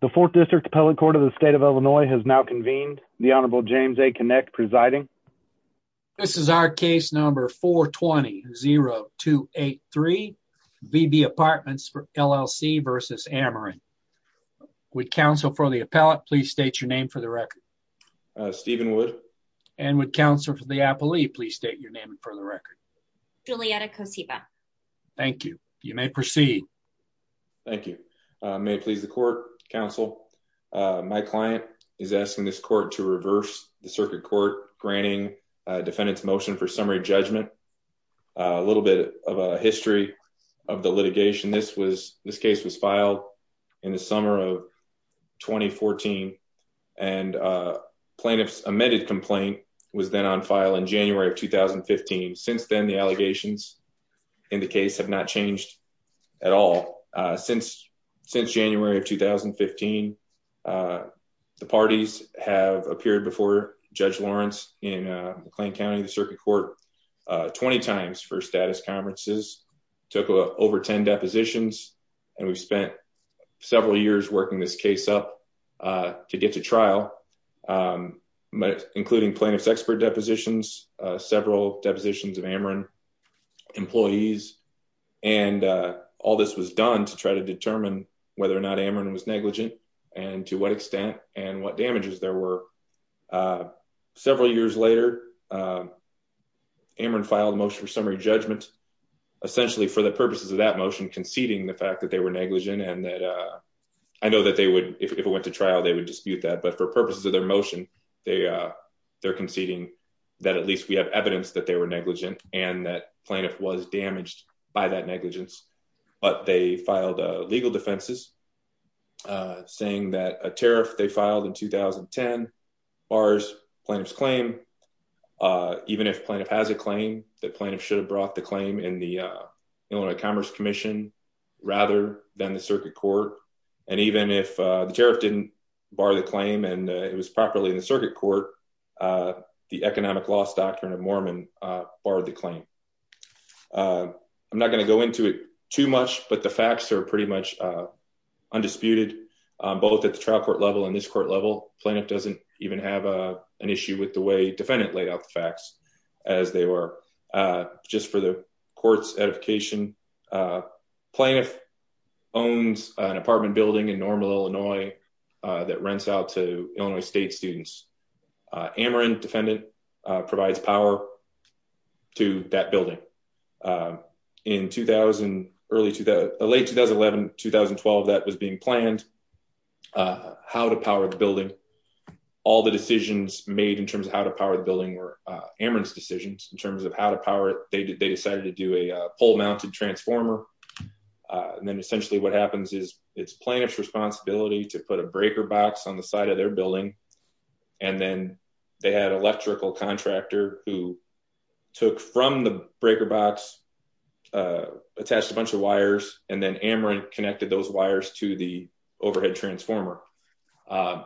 The fourth district appellate court of the state of Illinois has now convened. The Honorable James A. Connick presiding. This is our case number 420-0283, VB Apartments LLC v. Ameren. Would counsel for the appellate please state your name for the record? Stephen Wood. And would counsel for the appellee please state your name for the record? Julietta Kosiba. Thank you. You may proceed. Thank you. May it please the court, counsel. My client is asking this court to reverse the circuit court granting defendant's motion for summary judgment. A little bit of a history of the litigation. This case was filed in the summer of 2014 and plaintiff's amended complaint was then on file in January of 2015. Since then, the allegations in the case have not changed at all. Since January of 2015, the parties have appeared before Judge Lawrence in McLean County Circuit Court 20 times for status conferences, took over 10 depositions, and we spent several years working this case up to get to trial, um, but including plaintiff's expert depositions, uh, several depositions of Ameren employees. And, uh, all this was done to try to determine whether or not Ameren was negligent and to what extent and what damages there were. Uh, several years later, uh, Ameren filed motion for summary judgment, essentially for the purposes of that motion conceding the fact that they were negligent and that, uh, I know that they would, if it went to trial, they would dispute that. But for purposes of their motion, they, uh, they're conceding that at least we have evidence that they were negligent and that plaintiff was damaged by that negligence. But they filed, uh, legal defenses, uh, saying that a tariff they filed in 2010 bars plaintiff's claim, uh, even if plaintiff has a claim that plaintiff should have brought the claim in the, uh, Illinois Commerce Commission rather than the Circuit Court. And even if, uh, the tariff didn't bar the claim and it was properly in the Circuit Court, uh, the economic loss doctrine of Mormon, uh, barred the claim. Uh, I'm not going to go into it too much, but the facts are pretty much, uh, undisputed, um, both at the trial court level and this court level. Plaintiff doesn't even have, uh, an issue with the way defendant laid out the facts as they were, uh, just for the court's edification. Uh, plaintiff owns an apartment building in Normal, Illinois, uh, that rents out to Illinois State students. Uh, Ameren defendant, uh, provides power to that building. Uh, in 2000, early 2000, late 2011, 2012, that was being planned, uh, how to power the building. All the decisions made in terms of how to power the building were, uh, Ameren's decisions in deciding to do a pole mounted transformer. Uh, and then essentially what happens is it's plaintiff's responsibility to put a breaker box on the side of their building. And then they had electrical contractor who took from the breaker box, uh, attached a bunch of wires, and then Ameren connected those wires to the overhead transformer. Uh,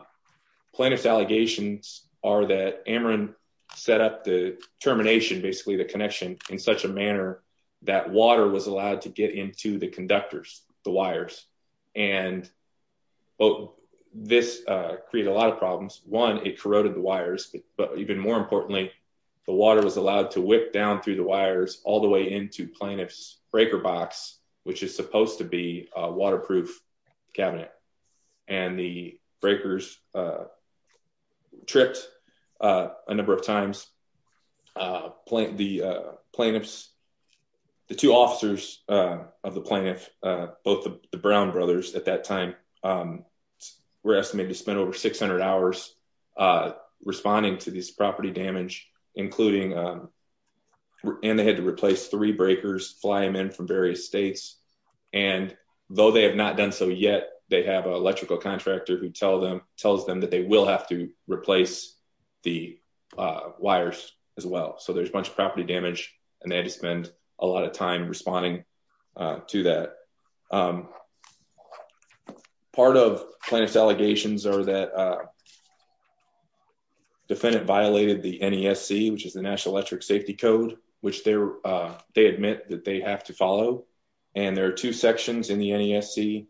plaintiff's allegations are that Ameren set up the termination, basically the connection in such a manner that water was allowed to get into the conductors, the wires. And well, this, uh, created a lot of problems. One, it corroded the wires, but even more importantly, the water was allowed to whip down through the wires all the way into plaintiff's breaker box, which is supposed to be a waterproof cabinet. And the breakers, uh, tripped, uh, a number of times. Uh, the, uh, plaintiff's, the two officers, uh, of the plaintiff, uh, both the Brown brothers at that time, um, were estimated to spend over 600 hours, uh, responding to this property damage, including, um, and they had to replace three breakers, fly them in from various states. And though they have not done so yet, they have an electrical contractor who tell them, tells them that they will have to replace the, uh, wires as well. So there's a bunch of property damage and they had to spend a lot of time responding, uh, to that. Um, part of plaintiff's allegations are that, uh, defendant violated the NESC, which is the national electric safety code, which they're, uh, they admit that they have to follow. And there are two sections in the NESC,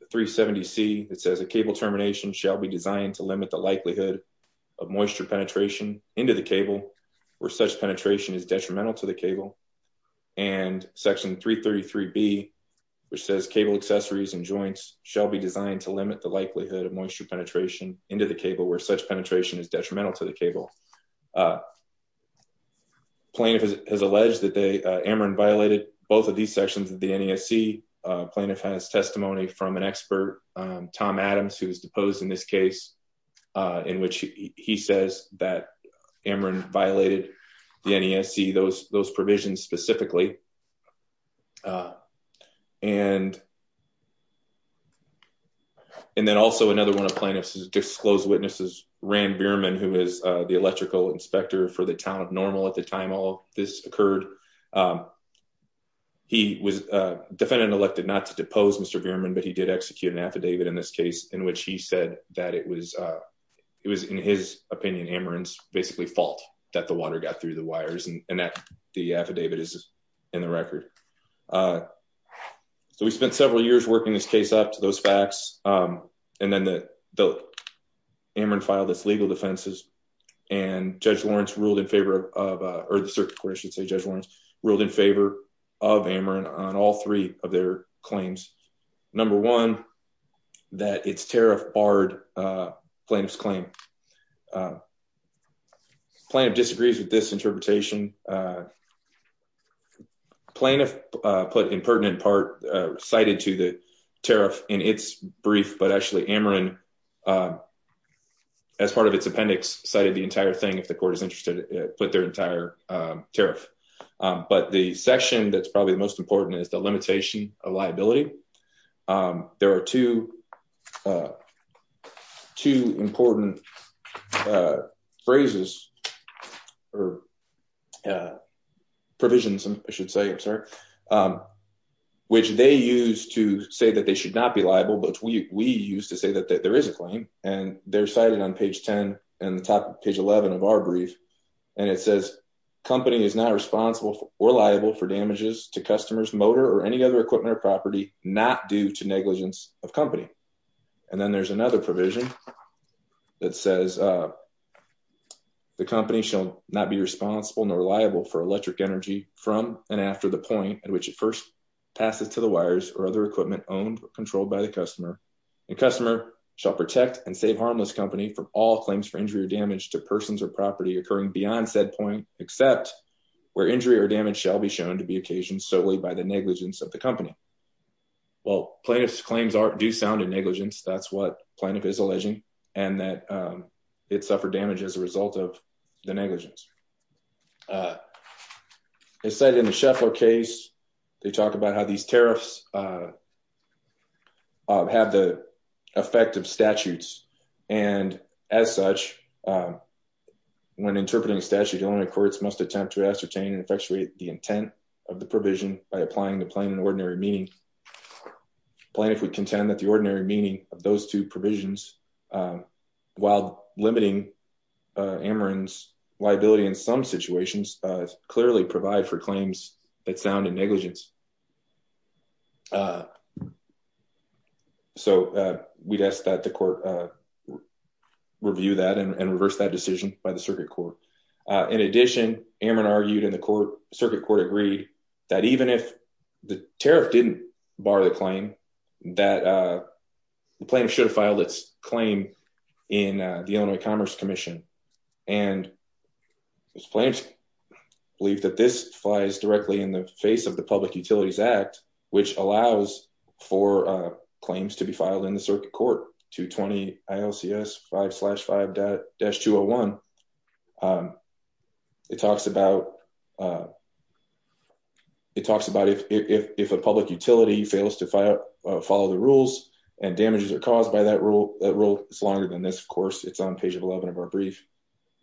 the 370C, it says a cable termination shall be designed to limit the likelihood of moisture penetration into the cable where such penetration is detrimental to the cable. And section 333B, which says cable accessories and joints shall be designed to limit the likelihood of moisture penetration into the cable where such penetration is detrimental to cable. Uh, plaintiff has alleged that they, uh, Ameren violated both of these sections of the NESC. Uh, plaintiff has testimony from an expert, um, Tom Adams, who was deposed in this case, uh, in which he says that Ameren violated the NESC, those, those provisions specifically. Uh, and, and then also another one of plaintiff's disclosed witnesses, Rand Bierman, who is, uh, the electrical inspector for the town of Normal at the time all this occurred. Um, he was, uh, defendant elected not to depose Mr. Bierman, but he did execute an affidavit in this case in which he said that it was, uh, it was in his opinion, Ameren's basically fault that the water got through the wires and that the affidavit is in the record. Uh, so we spent several years working this case up to those facts. Um, and then the, the Ameren filed this legal defenses and judge Lawrence ruled in favor of, uh, or the circuit court, I should say judge Lawrence ruled in favor of Ameren on all three of their claims. Number one, that it's tariff barred, uh, plaintiff's claim. Uh, plaintiff disagrees with this interpretation. Uh, plaintiff, uh, put in pertinent part, uh, cited to the tariff in its brief, but actually Ameren, um, as part of its appendix cited the entire thing, if the court is interested, put their entire, um, tariff. Um, but the section that's probably the most important is the limitation of liability. Um, there are two, uh, two important, uh, phrases or, uh, provisions I should say, I'm sorry. Um, which they use to say that they should not be liable, but we, we used to say that there is a claim and they're cited on page 10 and the top of page 11 of our brief. And it says company is not responsible or liable for damages to customers, motor, or any other equipment or property, not due to negligence of company. And then there's another provision that says, uh, the company shall not be responsible nor liable for electric energy from, and after the point at which it first passes to the wires or other equipment owned or controlled by the customer and customer shall protect and save harmless company from all claims for injury or damage to persons or property occurring beyond said point, except where injury or damage shall be shown to be occasioned solely by the negligence of the company. Well, plaintiff's claims are, do sound in negligence. That's what plaintiff is alleging and that, um, it suffered damage as a result of the negligence. Uh, they said in the Sheffler case, they talk about how these tariffs, uh, have the effect of statutes. And as such, um, when interpreting a statute, only courts must attempt to ascertain and effectuate the intent of the provision by applying the plain and ordinary meaning plaintiff would contend that the ordinary meaning of those two provisions, um, while limiting, uh, Amarin's liability in some situations, uh, clearly provide for claims that sound in negligence. Uh, so, uh, we'd ask that the court, uh, review that and reverse that decision by the circuit court. Uh, in addition, Amarin argued in the court circuit court agreed that even if the tariff didn't bar the claim that, uh, the plaintiff should have filed its claim in, uh, the Illinois commerce commission. And those plans believe that this flies directly in the face of the public utilities act, which allows for, uh, claims to be filed in 220 ILCS five slash five dash two Oh one. Um, it talks about, uh, it talks about if, if, if, if a public utility fails to follow the rules and damages are caused by that rule, that rule is longer than this. Of course, it's on page 11 of our brief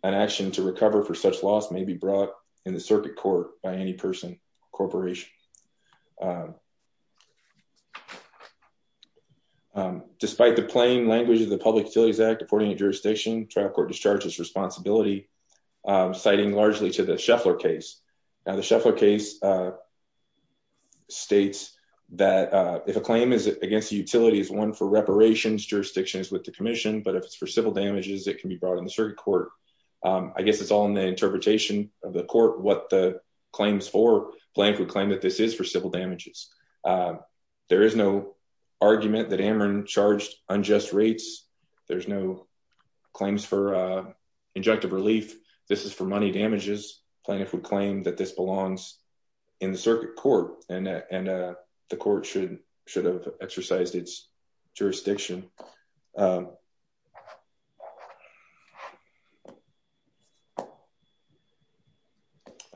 and action to recover for such may be brought in the circuit court by any person corporation. Um, despite the plain language of the public utilities act, according to jurisdiction trial court discharges responsibility, um, citing largely to the Sheffler case. Now the Sheffler case, uh, States that, uh, if a claim is against the utility is one for reparations jurisdictions with the commission, but if it's for civil damages, it can be brought in the circuit court. Um, I guess it's all in the interpretation of the court, what the claims for blank would claim that this is for civil damages. Uh, there is no argument that Amron charged unjust rates. There's no claims for, uh, injunctive relief. This is for money damages. Plaintiff would claim that this belongs in the circuit court and, uh, the court should, should have exercised its jurisdiction. Um,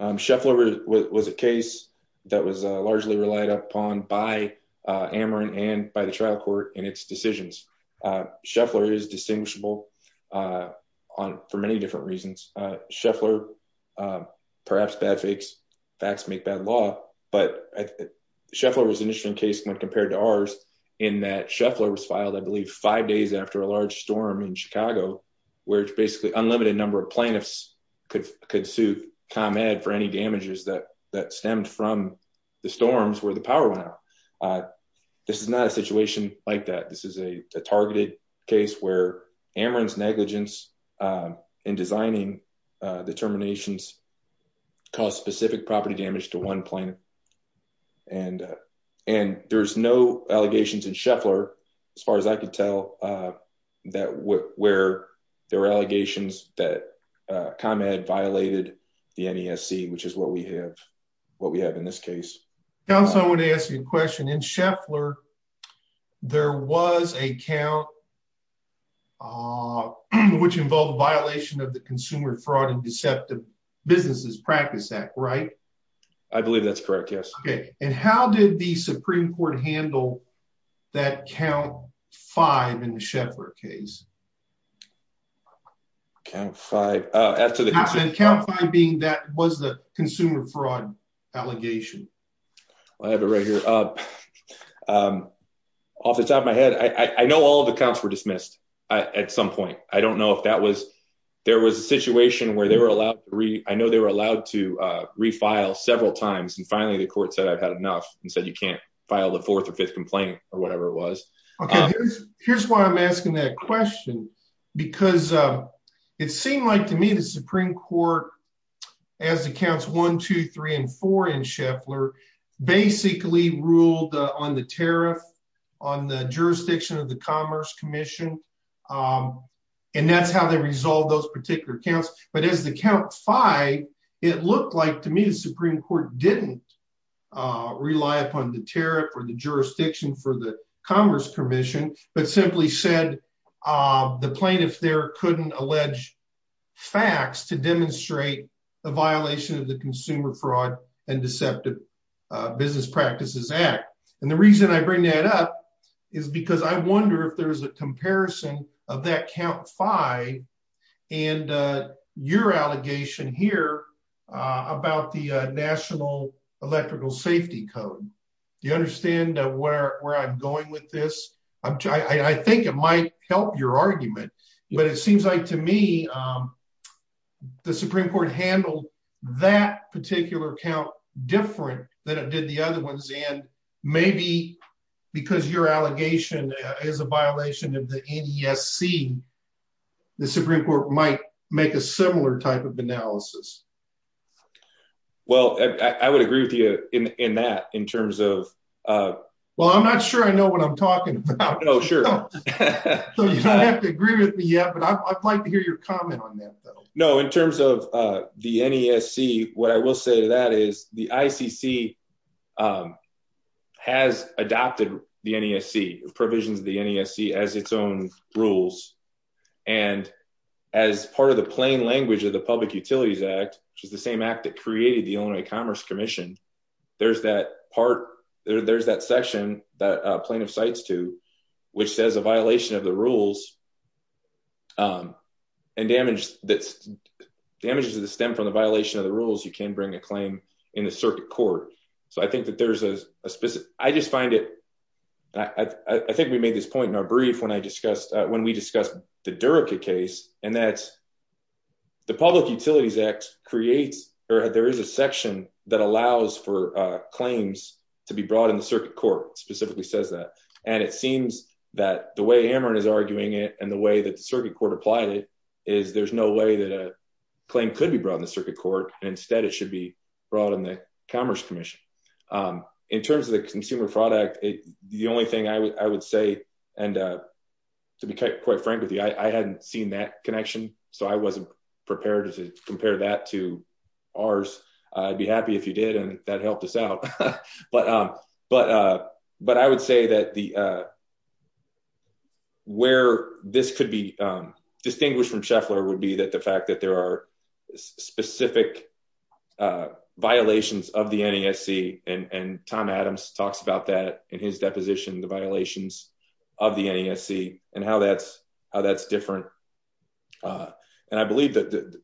Sheffler was a case that was, uh, largely relied upon by, uh, Amron and by the trial court and its decisions. Uh, Sheffler is distinguishable, uh, on for many different reasons, uh, Sheffler, uh, perhaps bad fakes facts make bad law, but Sheffler was an interesting case when compared to ours in that Sheffler was filed, I believe five days after a large storm in Chicago, where it's basically unlimited number of plaintiffs could, could sue com ed for any damages that, that stemmed from the storms where the power went out. Uh, this is not a situation like that. This is a targeted case where Amron's negligence, um, in designing, uh, the terminations cause specific property damage to one plan. And, uh, and there's no allegations in Sheffler. As far as I could tell, uh, that w where there were allegations that, uh, com ed violated the NESC, which is what we have, what we have in this case. I want to ask you a question in Sheffler. There was a count, uh, which involved a violation of the consumer fraud and deceptive businesses practice act, right? I believe that's correct. Yes. Okay. And how did the Supreme court handle that count five in the Sheffler case? Count five, uh, after the count five being that was the consumer fraud allegation. I have it right here. Um, um, off the top of my head, I know all of the counts were dismissed at some point. I don't know if that was, there was a situation where they were allowed to re I know they were allowed to, uh, refile several times. And finally the court said, I've had enough and said, you can't file the fourth or fifth complaint or whatever it was. Okay. Here's why I'm asking that question because, um, it seemed like to me, the Supreme court as accounts one, two, three, and four in Sheffler basically ruled on the tariff on the jurisdiction of the commerce commission. Um, and that's how they resolve those particular counts. But as the count five, it looked like to me, the Supreme court didn't, uh, rely upon the tariff or the jurisdiction for the commerce commission, but simply said, uh, the plaintiff couldn't allege facts to demonstrate the violation of the consumer fraud and deceptive business practices act. And the reason I bring that up is because I wonder if there was a comparison of that count five and, uh, your allegation here, uh, about the, uh, national electrical safety code. Do you understand where I'm going with this? I'm trying, I think it might help your argument, but it seems like to me, um, the Supreme court handled that particular account different than it did the other ones. And maybe because your allegation is a violation of the NESC, the Supreme court might make a similar type of analysis. Well, I would agree with you in that in terms of, uh, well, I'm not sure I know what I'm talking about. No, sure. So you don't have to agree with me yet, but I'd like to hear your comment on that though. No, in terms of, uh, the NESC, what I will say to that is the ICC, um, has adopted the NESC provisions, the NESC as its own rules. And as part of the plain language of the public utilities act, which is the same act that created the Illinois commerce commission. There's that part there, there's that section that a plaintiff cites to, which says a violation of the rules, um, and damage that's damages to the stem from the violation of the rules. You can bring a claim in the circuit court. So I think that there's a specific, I just find it. I think we made this point in our brief when I discussed, uh, when we discussed the Durica case and that the public utilities act creates, or there is a section that allows for, uh, claims to be brought in the circuit court specifically says that. And it seems that the way Amarin is arguing it and the way that the circuit court applied it is there's no way that a claim could be brought in the circuit court. And instead it should be brought in the commerce commission. Um, in terms of the consumer product, the only thing I would say, and, uh, to be quite frank with you, I hadn't seen that connection. So I wasn't prepared to compare that to ours. I'd be happy if you did. And that helped us out, but, um, but, uh, but I would say that the, uh, where this could be, um, distinguished from Scheffler would be that the fact that there are specific, uh, violations of the NESC and, and Tom Adams talks about that in his deposition, the violations of the NESC and how that's, how that's different. Uh, and I believe that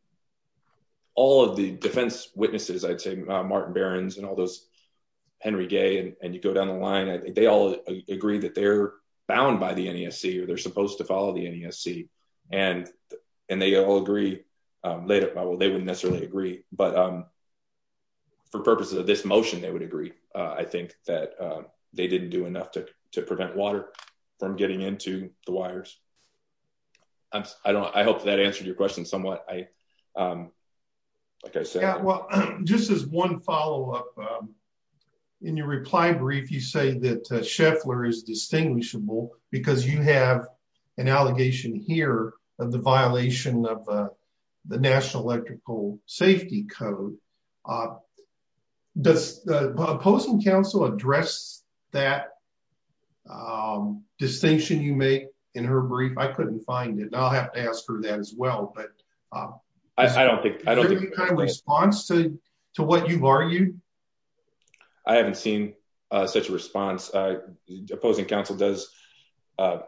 all of the defense witnesses, I'd say Martin Barons and all those Henry Gay. And you go down the line, I think they all agree that they're bound by the NESC or they're supposed to follow the NESC and, and they all agree, um, laid up by, well, they wouldn't necessarily agree, but, um, for purposes of this motion, they would agree. Uh, I think that, they didn't do enough to prevent water from getting into the wires. I don't, I hope that answered your question somewhat. I, um, like I said, just as one follow-up, um, in your reply brief, you say that, uh, Scheffler is distinguishable because you have an allegation here of the that, um, distinction you make in her brief. I couldn't find it. I'll have to ask her that as well, but, um, I don't think, I don't think kind of response to, to what you've argued. I haven't seen, uh, such a response. Uh, the opposing counsel does, uh,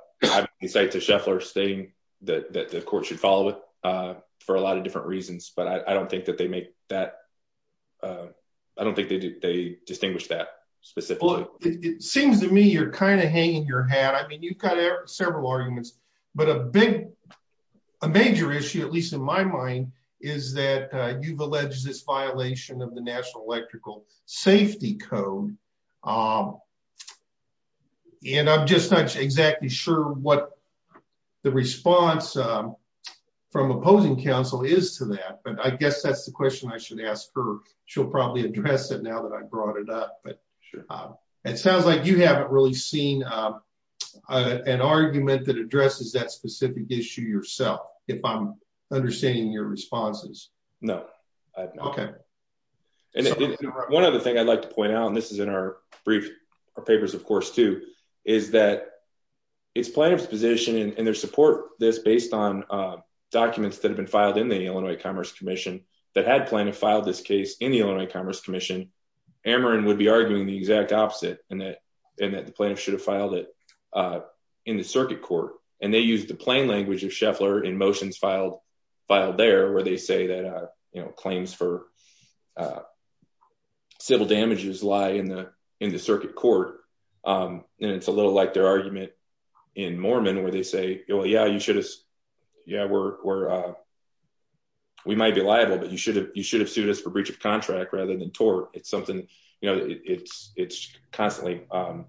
say to Scheffler stating that the court should follow it, uh, for a lot of different reasons, but I don't think that they make that, uh, I don't think they do, they distinguish that specifically. It seems to me, you're kind of hanging your hat. I mean, you've got several arguments, but a big, a major issue, at least in my mind, is that, uh, you've alleged this violation of the national electrical safety code. Um, and I'm just not exactly sure what the response, um, from opposing counsel is to that, but I guess that's the question I should ask her. She'll probably address it now that I brought it up, but, um, it sounds like you haven't really seen, um, uh, an argument that addresses that specific issue yourself, if I'm understanding your responses. No. Okay. And one other thing I'd like to point out, and this is in our brief, our papers, of course, too, is that it's plaintiff's position and their support this based on, uh, documents that have been filed in the Illinois Commerce Commission that had plaintiff filed this case in the Illinois Commerce Commission. Ameren would be arguing the exact opposite and that, and that the plaintiff should have filed it, uh, in the circuit court. And they use the plain language of Scheffler in motions filed, filed there, where they say that, uh, you know, claims for, uh, civil damages lie in the, in the well, yeah, you should have, yeah, we're, we're, uh, we might be liable, but you should have, you should have sued us for breach of contract rather than tort. It's something, you know, it's, it's constantly, um,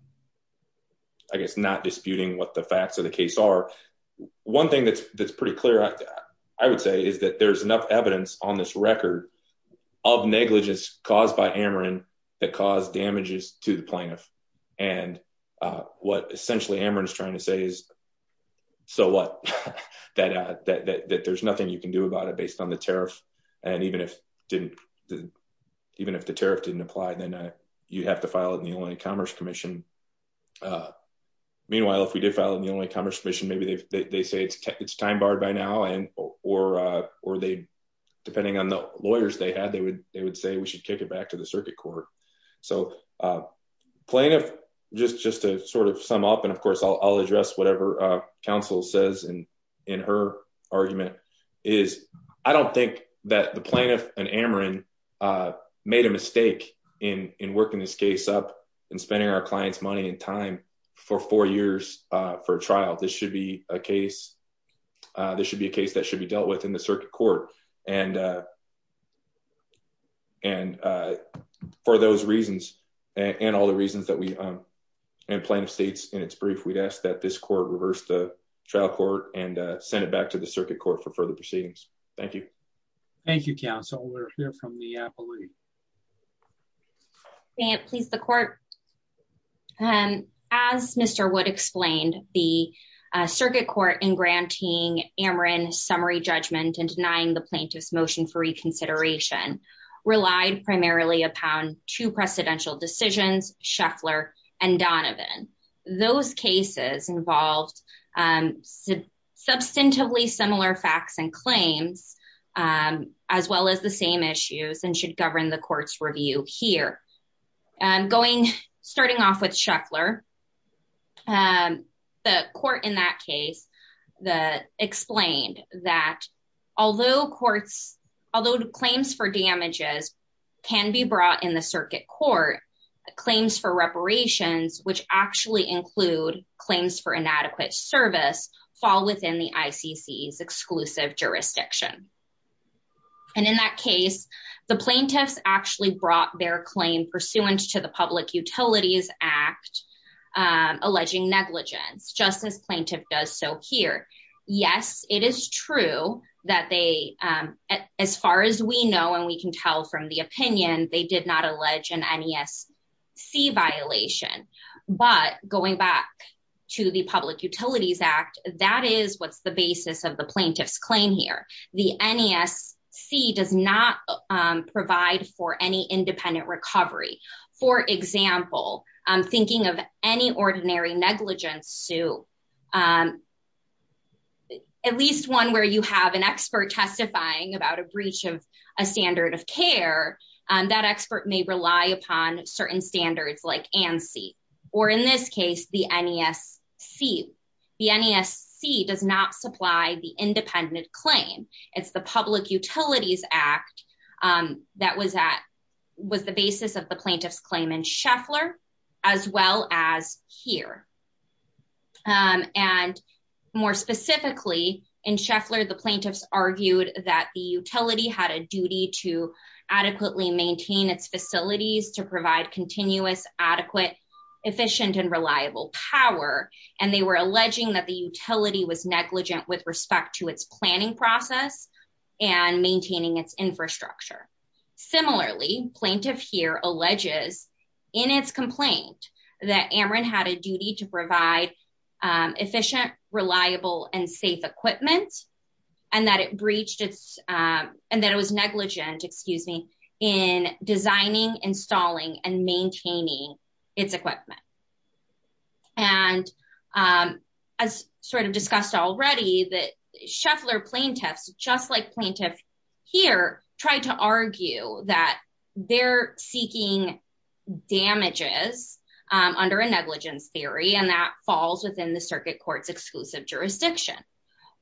I guess not disputing what the facts of the case are. One thing that's, that's pretty clear, I would say is that there's enough evidence on this record of negligence caused by Ameren that caused damages to the plaintiff. And, uh, what essentially Ameren is trying to say is, so what, that, uh, that, that, that there's nothing you can do about it based on the tariff. And even if didn't, even if the tariff didn't apply, then you'd have to file it in the Illinois Commerce Commission. Uh, meanwhile, if we did file it in the Illinois Commerce Commission, maybe they've, they say it's, it's time barred by now. And, or, uh, or they, depending on the lawyers they had, they would, they would say we should kick it back to the I'll address whatever, uh, counsel says in, in her argument is I don't think that the plaintiff and Ameren, uh, made a mistake in, in working this case up and spending our client's money and time for four years, uh, for trial, this should be a case. Uh, this should be a case that should be dealt with in the circuit court. And, uh, and, uh, for those reasons and all the reasons that we, um, and plaintiff states in its brief, we'd ask that this court reversed the trial court and, uh, send it back to the circuit court for further proceedings. Thank you. Thank you, counsel. We're here from the appellate. May it please the court. Um, as Mr. Wood explained the, uh, circuit court in granting Ameren summary judgment and denying the plaintiff's motion for reconsideration relied primarily upon two precedential decisions, Shuffler and Donovan. Those cases involved, um, sub substantively similar facts and claims, um, as well as the same issues and should govern the court's review here. Um, going, starting off with Shuffler, um, the court in that case, the explained that although courts, although claims for damages can be brought in the circuit court claims for reparations, which actually include claims for inadequate service fall within the ICC is exclusive jurisdiction. And in that case, the plaintiffs actually brought their claim pursuant to the public utilities act, um, alleging negligence justice plaintiff does. So here, yes, it is true that they, um, as far as we know, and we can tell from the opinion, they did not allege an NESC violation, but going back to the public utilities act, that is what's the basis of the plaintiff's claim here. The NESC does not provide for any Um, at least one where you have an expert testifying about a breach of a standard of care. Um, that expert may rely upon certain standards like ANSI or in this case, the NESC, the NESC does not supply the independent claim. It's the public utilities act. Um, that was at, was the basis of the plaintiff's claim in Shuffler as well as here. Um, and more specifically in Shuffler, the plaintiffs argued that the utility had a duty to adequately maintain its facilities to provide continuous, adequate, efficient, and reliable power. And they were alleging that the utility was negligent with respect to its planning process and maintaining its infrastructure. Similarly plaintiff here alleges in its complaint that Amarin had a duty to provide, um, efficient, reliable, and safe equipment and that it breached its, um, and that it was negligent, excuse me, in designing, installing, and maintaining its equipment. And, um, as sort of discussed already that Shuffler plaintiffs, just like and that falls within the circuit court's exclusive jurisdiction,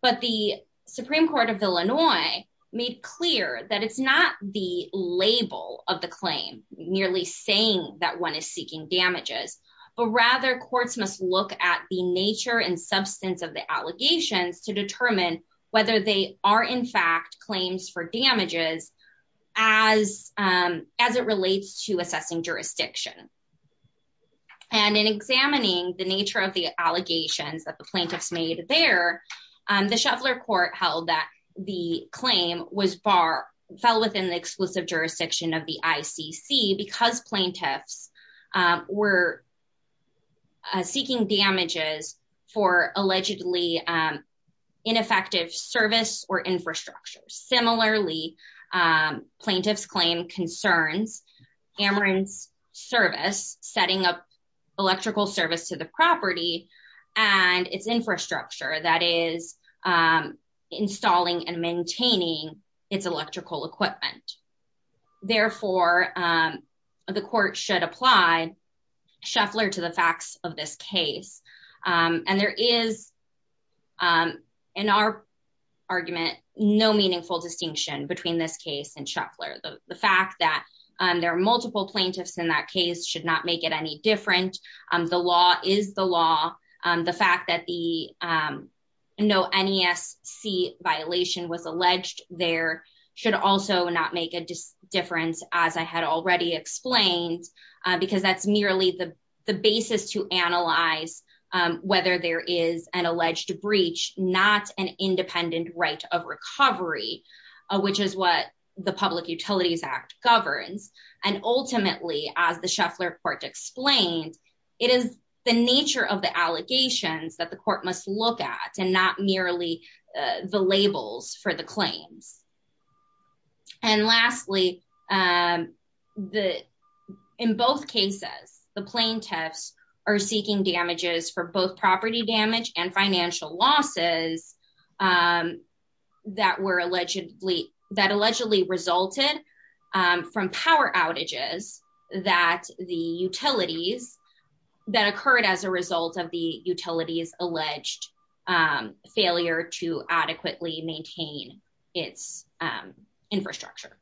but the Supreme court of Illinois made clear that it's not the label of the claim nearly saying that one is seeking damages, but rather courts must look at the nature and substance of the allegations to determine whether they are in fact claims for damages as, um, as it relates to assessing jurisdiction. And in examining the nature of the allegations that the plaintiffs made there, um, the Shuffler court held that the claim was bar fell within the exclusive jurisdiction of the ICC because plaintiffs, um, were, uh, seeking damages for allegedly, um, ineffective service or setting up electrical service to the property and its infrastructure that is, um, installing and maintaining its electrical equipment. Therefore, um, the court should apply Shuffler to the facts of this case. Um, and there is, um, in our argument, no meaningful distinction between this case and Shuffler. The fact that, um, there are multiple plaintiffs in that case should not make it any different. Um, the law is the law. Um, the fact that the, um, no NESC violation was alleged there should also not make a difference as I had already explained, uh, because that's merely the basis to analyze, um, whether there is an alleged breach, not an independent right of recovery, uh, which is what the public utilities act governs. And ultimately, as the Shuffler court explained, it is the nature of the allegations that the court must look at and not merely, uh, the labels for the claims. And lastly, um, the, in both cases, the plaintiffs are seeking damages for both property damage and financial losses, um, that were allegedly that allegedly resulted, um, from power outages that the utilities that occurred as a result of the utilities alleged, um, failure to adequately maintain its, um, infrastructure.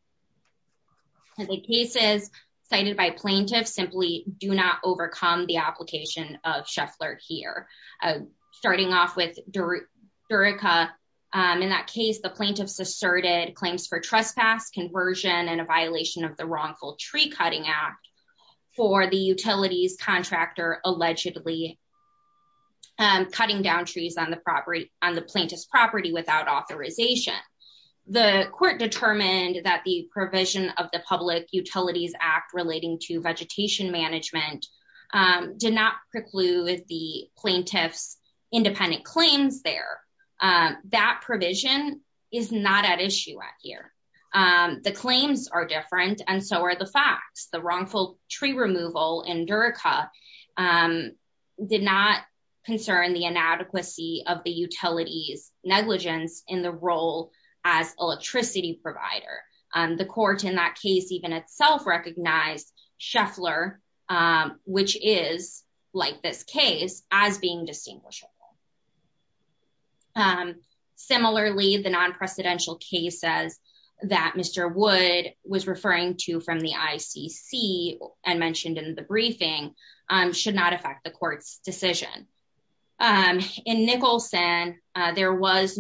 And the cases cited by plaintiffs simply do not overcome the application of Shuffler here, uh, starting off with Durica. Um, in that case, the plaintiffs asserted claims for trespass conversion and a violation of the wrongful tree cutting out for the utilities contractor allegedly, um, cutting down trees on the property on the plaintiff's property without authorization. The court determined that the provision of the public utilities act relating to vegetation management, um, did not preclude the plaintiff's independent claims there. Um, that provision is not at issue at here. Um, the claims are different and so are the facts, the wrongful tree removal in Durica, um, did not concern the inadequacy of the utilities negligence in the role as electricity provider. Um, the court in that case, even itself recognized Shuffler, um, which is like this case as being distinguishable. Um, similarly, the non-precedential cases that Mr. Wood was referring to from the ICC and mentioned in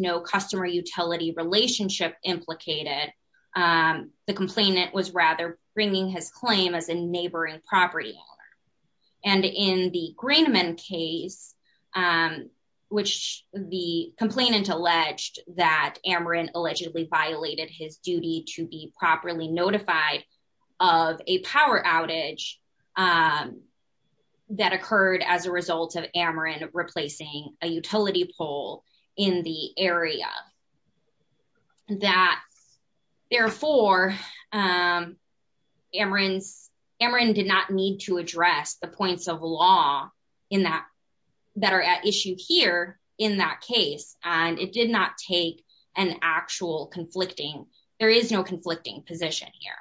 the customer utility relationship implicated, um, the complainant was rather bringing his claim as a neighboring property owner. And in the Greenman case, um, which the complainant alleged that Ameren allegedly violated his duty to be properly notified of a power outage, um, that occurred as a result of Ameren replacing a utility pole in the area. That therefore, um, Ameren's, Ameren did not need to address the points of law in that, that are at issue here in that case. And it did not take an actual conflicting, there is no conflicting position here.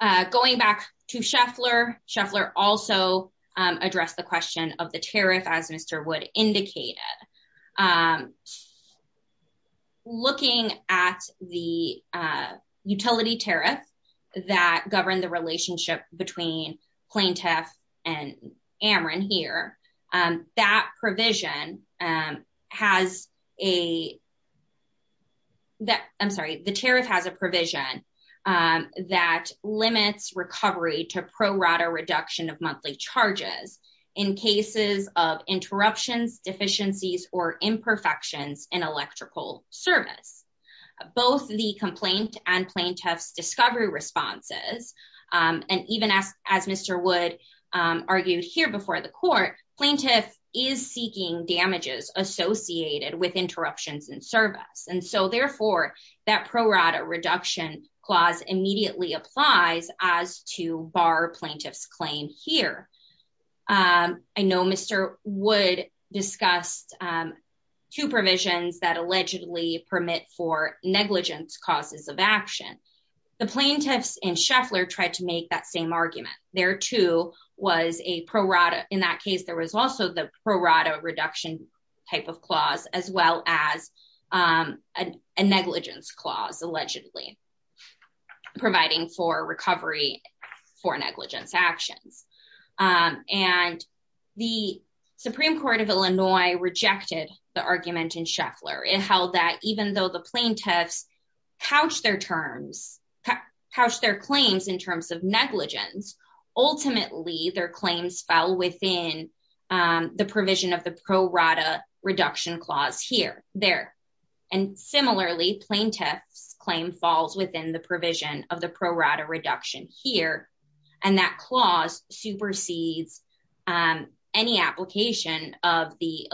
Uh, going back to Shuffler, Shuffler also, um, addressed the question of the tariff as Mr. Wood indicated. Um, looking at the, uh, utility tariff that governed the relationship between provision, um, that limits recovery to pro rata reduction of monthly charges in cases of interruptions, deficiencies, or imperfections in electrical service, both the complaint and plaintiff's discovery responses. Um, and even as, as Mr. Wood, um, argued here before the court, plaintiff is seeking damages associated with interruptions in service. And so therefore that pro rata reduction clause immediately applies as to bar plaintiff's claim here. Um, I know Mr. Wood discussed, um, two provisions that allegedly permit for negligence causes of action. The plaintiffs in Shuffler tried to make that same argument. There too was a pro rata, in that case, there was also the pro rata reduction type of clause, as well as, um, a negligence clause allegedly providing for recovery for negligence actions. Um, and the Supreme Court of Illinois rejected the argument in Shuffler. It held that even though the plaintiffs couched their claims in terms of negligence, ultimately their claims fell within, um, the provision of the pro rata reduction clause here, there. And similarly plaintiff's claim falls within the provision of the pro rata reduction here. And that clause supersedes, um, any application of the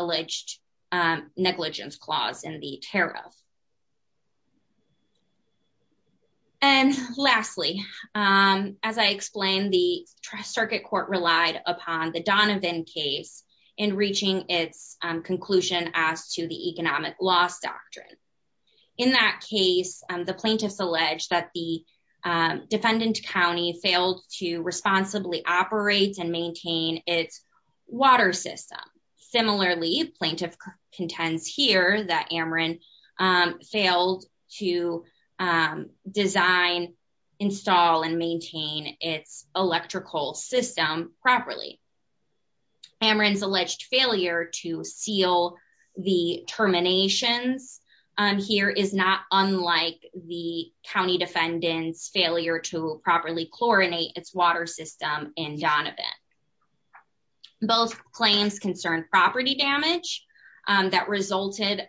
and lastly, um, as I explained, the trust circuit court relied upon the Donovan case in reaching its conclusion as to the economic loss doctrine. In that case, the plaintiffs alleged that the defendant County failed to responsibly operate and maintain its water system. Similarly, plaintiff contends here that Ameren, um, failed to, um, design, install and maintain its electrical system properly. Ameren's alleged failure to seal the terminations, um, here is not unlike the County defendant's failure to properly chlorinate its water system in Donovan. Both claims concern property damage, um, that resulted,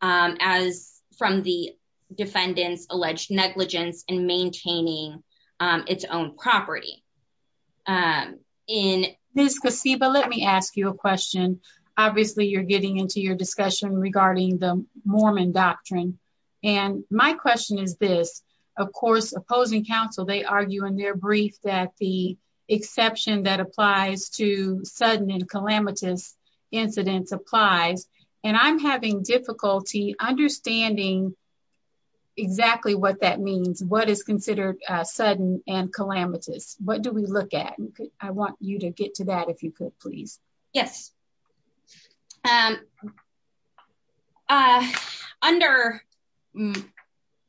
um, as from the defendant's alleged negligence and maintaining, um, its own property. Um, in this case, but let me ask you a question. Obviously you're getting into your discussion regarding the Mormon doctrine. And my question is this, of course, opposing counsel, they argue in their brief that the exception that applies to sudden and calamitous incidents applies. And I'm having difficulty understanding exactly what that means. What is considered a sudden and calamitous? What do we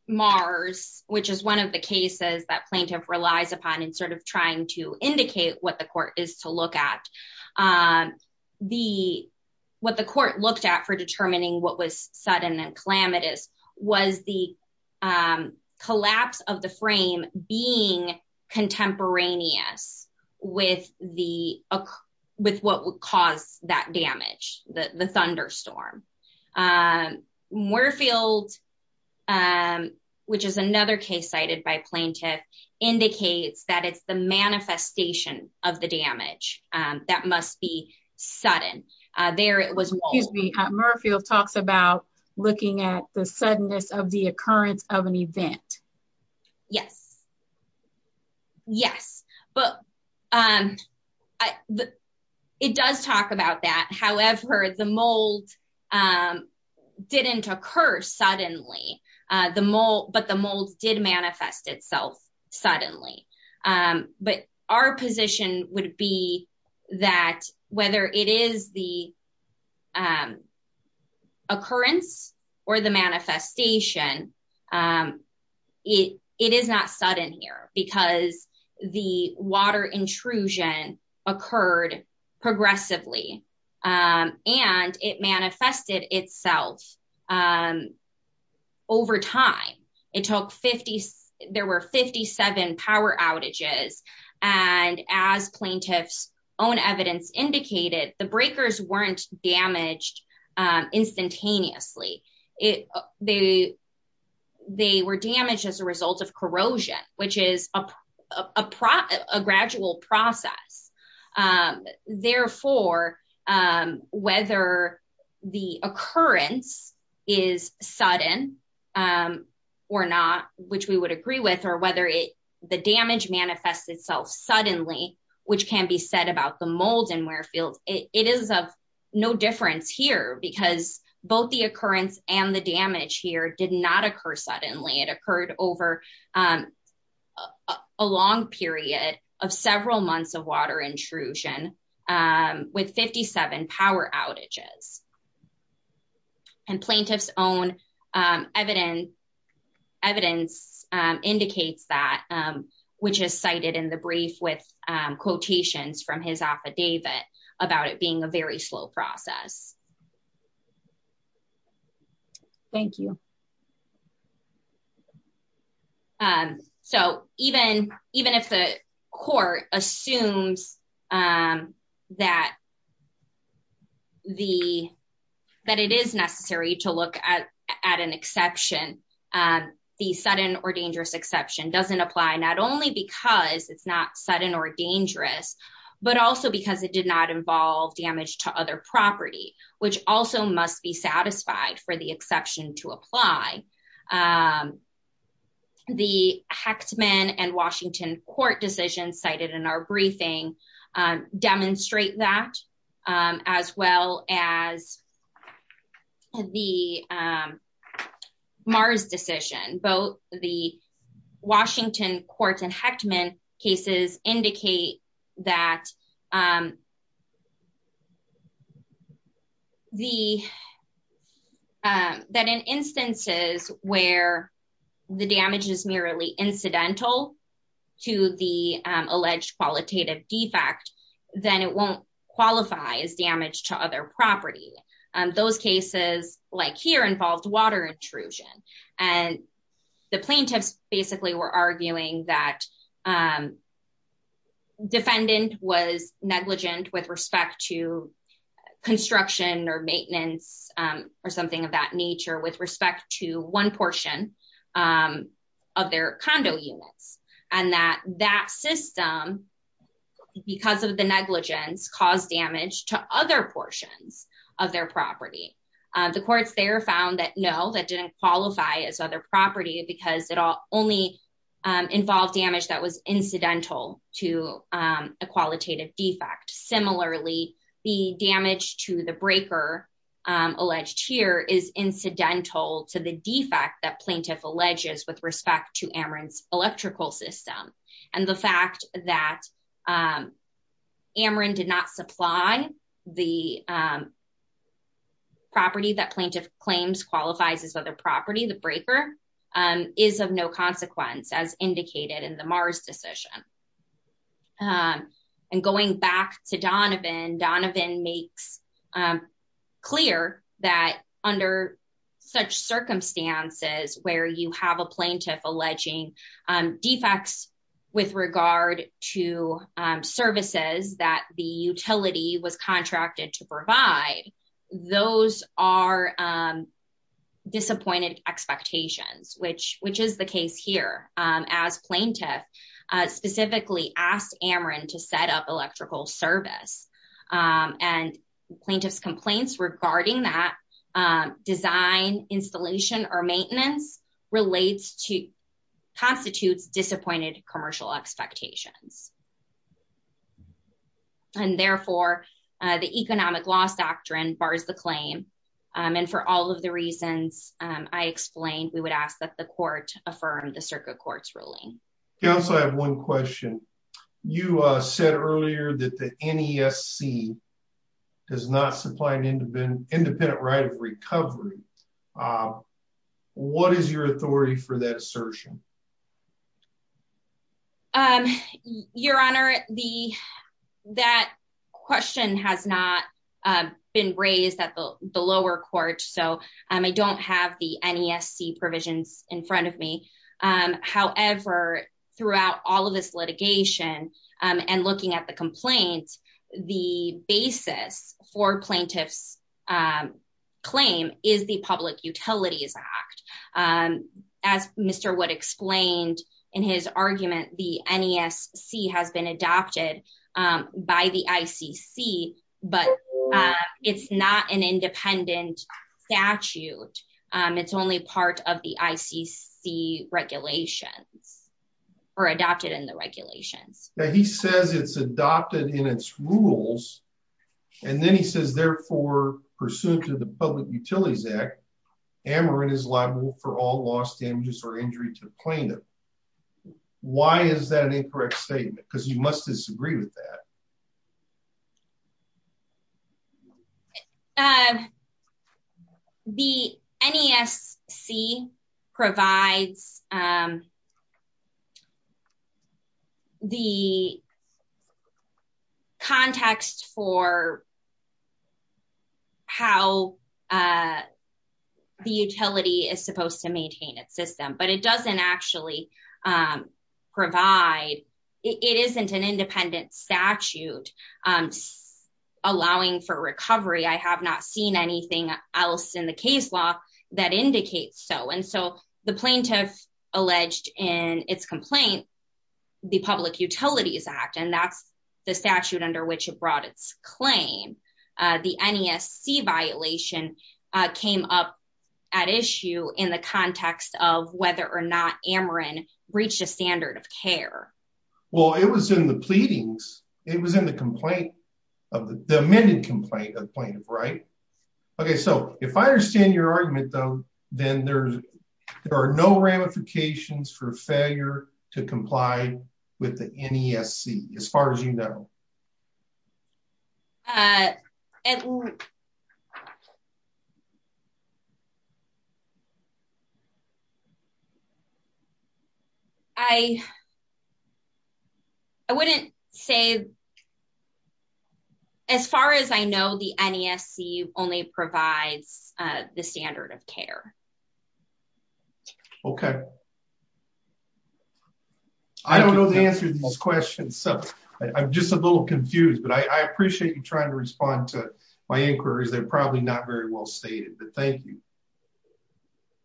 Mars, which is one of the cases that plaintiff relies upon and sort of trying to indicate what the court is to look at, um, the, what the court looked at for determining what was sudden and calamitous was the, um, collapse of the frame being contemporaneous with the, uh, with what would cause that damage, the, the thunderstorm, um, Moorfield, um, which is another case cited by plaintiff indicates that it's the manifestation of the damage, um, that must be sudden. Uh, there, it was, excuse me, Murfield talks about looking at the suddenness of the occurrence of an event. Yes. Yes. But, um, I, it does talk about that. However, the mold, um, didn't occur suddenly, uh, the mold, but the mold did manifest itself suddenly. Um, but our position would be that whether it is the, um, occurrence or the manifestation, um, it, it is not sudden here because the water intrusion occurred progressively. Um, and it manifested itself, um, over time it took 50, there were 57 power outages. And as plaintiff's own evidence indicated, the breakers weren't damaged, um, instantaneously. It, they, they were damaged as a result of or not, which we would agree with, or whether it, the damage manifests itself suddenly, which can be said about the mold and where field it is of no difference here because both the occurrence and the damage here did not occur suddenly. It occurred over, um, a long period of several months of water intrusion, um, with 57 power outages and plaintiff's own, um, evidence, evidence, um, indicates that, um, which is cited in the brief with, um, quotations from his affidavit about it being a very slow process. Thank you. Um, so even, even if the court assumes, um, that the, that it is necessary to look at, at an exception, um, the sudden or dangerous exception doesn't apply, not only because it's not sudden or dangerous, but also because it did not involve damage to other property, which also must be satisfied for the exception to apply. Um, the Hechtman and Washington court decisions cited in our briefing, um, demonstrate that, um, as well as the, um, Mars decision, both the Washington courts and Hechtman cases indicate that, um, the, um, that in instances where the damage is merely incidental to the, um, alleged qualitative defect, then it won't qualify as damage to other property. Um, those cases like here involved water intrusion and the plaintiffs basically were arguing that, um, defendant was negligent with respect to construction or maintenance, um, or something of that nature with respect to one portion, um, of their condo units and that that system because of the negligence caused damage to other portions of their property. Um, the courts there found that no, that didn't qualify as other property because it all only, um, involved damage that was incidental to, um, a qualitative defect. Similarly, the damage to the breaker, um, alleged here is incidental to the defect that plaintiff alleges with respect to Amarin's electrical system. And the fact that, um, Amarin did not supply the, um, property that plaintiff claims qualifies as other property, the breaker, um, is of no consequence as indicated in the Mars decision. Um, and going back to Donovan, Donovan makes, um, clear that under such circumstances where you have a plaintiff alleging, um, defects with regard to, um, services that the utility was contracted to which, which is the case here, um, as plaintiff, uh, specifically asked Amarin to set up electrical service, um, and plaintiff's complaints regarding that, um, design installation or maintenance relates to constitutes disappointed commercial expectations. And therefore, uh, the economic loss doctrine bars the claim. Um, and for all of the reasons, um, I explained, we would ask that the court affirm the circuit court's ruling. You also have one question. You, uh, said earlier that the NESC does not supply an independent, independent right of recovery. Um, what is your authority for that assertion? Um, your honor, the, that question has not, um, been raised at the lower court. So, I don't have the NESC provisions in front of me. Um, however, throughout all of this litigation, um, and looking at the complaints, the basis for plaintiff's, um, claim is the public utilities act. Um, as Mr. Wood explained in his argument, the NESC has been adopted, um, by the ICC, but, uh, it's not an independent statute. Um, it's only part of the ICC regulations or adopted in the regulations. Yeah. He says it's adopted in its rules. And then he says, therefore, pursuant to the public utilities act, Ameren is liable for all loss, damages, or injury to the plaintiff. Why is that an incorrect statement? Because you must disagree with that. Um, the NESC provides, um, the context for how, uh, the utility is supposed to maintain its system, but it doesn't actually, um, provide, it isn't an independent statute, um, allowing for recovery. I have not seen anything else in the case law that indicates so. And so the plaintiff alleged in its complaint, the public utilities act, and that's the statute Ameren reached a standard of care. Well, it was in the pleadings. It was in the complaint of the amended complaint of plaintiff. Right. Okay. So if I understand your argument though, then there's, there are no ramifications for failure to comply with the NESC as far as you know. Uh, I, I wouldn't say as far as I know, the NESC only provides, uh, the standard of care. Okay. I don't know the answer to this question. So I'm just a little confused, but I appreciate you trying to respond to my inquiries. They're probably not very well stated, but thank you.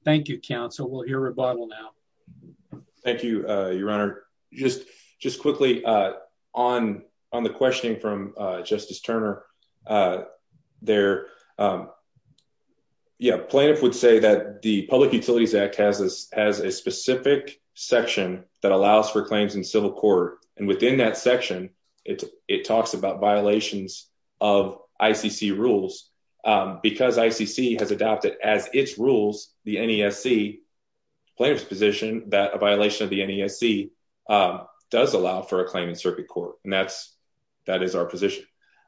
Thank you, counsel. We'll hear rebuttal now. Thank you. Uh, your honor, just, just quickly, uh, on, on the questioning from, uh, justice Turner, uh, there, um, yeah, plaintiff would say that the public utilities act has this, has a specific section that allows for claims in civil court. And within that section, it's, it talks about violations of ICC rules, um, because ICC has adopted as its rules, the NESC plaintiff's position that a violation of the NESC, um, does allow for a claim in circuit court. And that's, that is our position.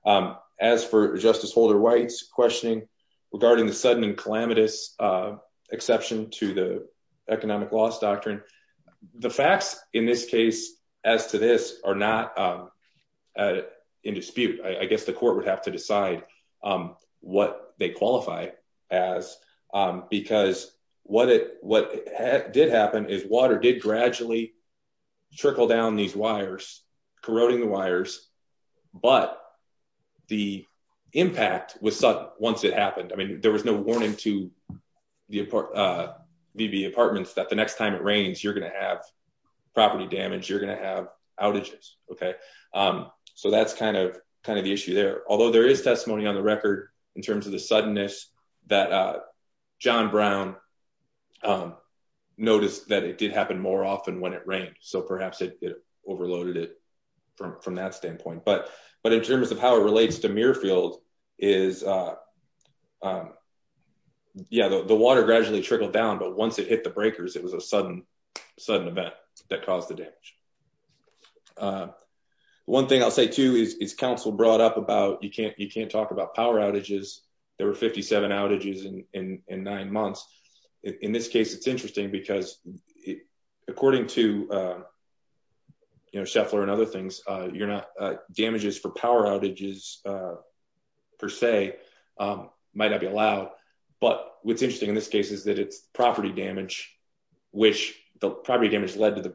Um, as for justice Holder White's questioning regarding the sudden and calamitous, uh, exception to the economic loss doctrine, the facts in this case, as to this are not, um, uh, in dispute, I guess the court would have to decide, um, what they qualify as, um, because what it, what did happen is water did gradually trickle down these wires, corroding the wires, but the impact was sudden once it happened. I mean, there was no warning to the, uh, VB apartments that the next time it rains, you're going to have property damage. You're going to have outages. Okay. Um, so that's kind of, kind of the issue there, although there is testimony on the record in terms of the suddenness that, uh, John Brown, um, noticed that it did happen more often when it rained. So perhaps it overloaded it from, from that standpoint, but, but in terms of how it relates to Muirfield is, uh, um, yeah, the, the water gradually trickled down, but once it hit the breakers, it was a sudden, sudden event that caused the damage. Uh, one thing I'll say too, is, is council brought up about, you can't, you can't talk about power outages. There were 57 outages in, in, in nine months. In this case, it's interesting because according to, uh, you know, Sheffler and other things, uh, you're not, uh, damages for power outages, uh, per se, um, might not be allowed, but what's interesting in this case is that it's property damage, which the property damage led to the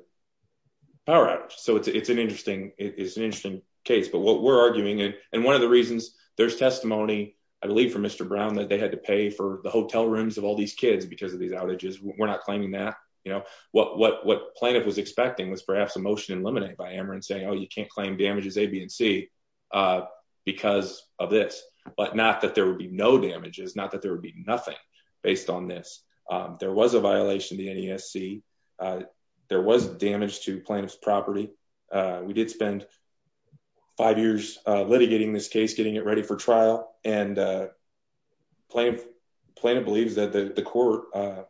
power outage. So it's, it's an interesting, it's an interesting case, but what we're arguing, and one of the reasons there's testimony, I believe from Mr. Brown, that they had to pay for the hotel rooms of all these kids because of these outages, we're not claiming that, you know, what, what, what plaintiff was expecting was perhaps a motion eliminated by Ameren saying, oh, you can't claim damages A, B, and C, uh, because of this, but not that there would be no damages, not that there would be nothing based on this. Um, there was a violation of the NESC. Uh, there was damage to plaintiff's property. Uh, we did spend five years, uh, litigating this case, getting it ready for trial and, uh, plaintiff plaintiff believes that the court, uh,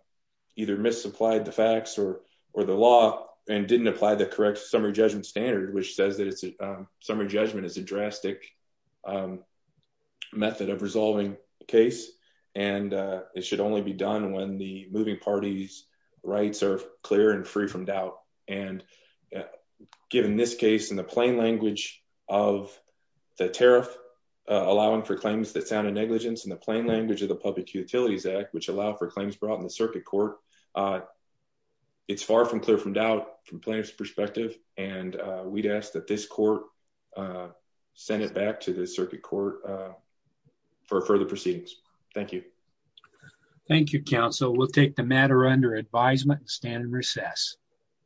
either misapplied the facts or, or the law and didn't apply the correct summary judgment standard, which says that it's a summary judgment is a drastic, um, method of resolving the case. And, uh, it should only be done when the moving parties rights are clear and free from doubt. And given this case in the plain language of the tariff, uh, allowing for claims that sounded negligence in the plain language of the public utilities act, which allow for claims brought in the circuit court, uh, it's far from clear from doubt from plaintiff's perspective. And, uh, we'd ask that this court, uh, send it back to the circuit court, uh, for further proceedings. Thank you. Thank you. Council. We'll take the matter under advisement and stand in recess.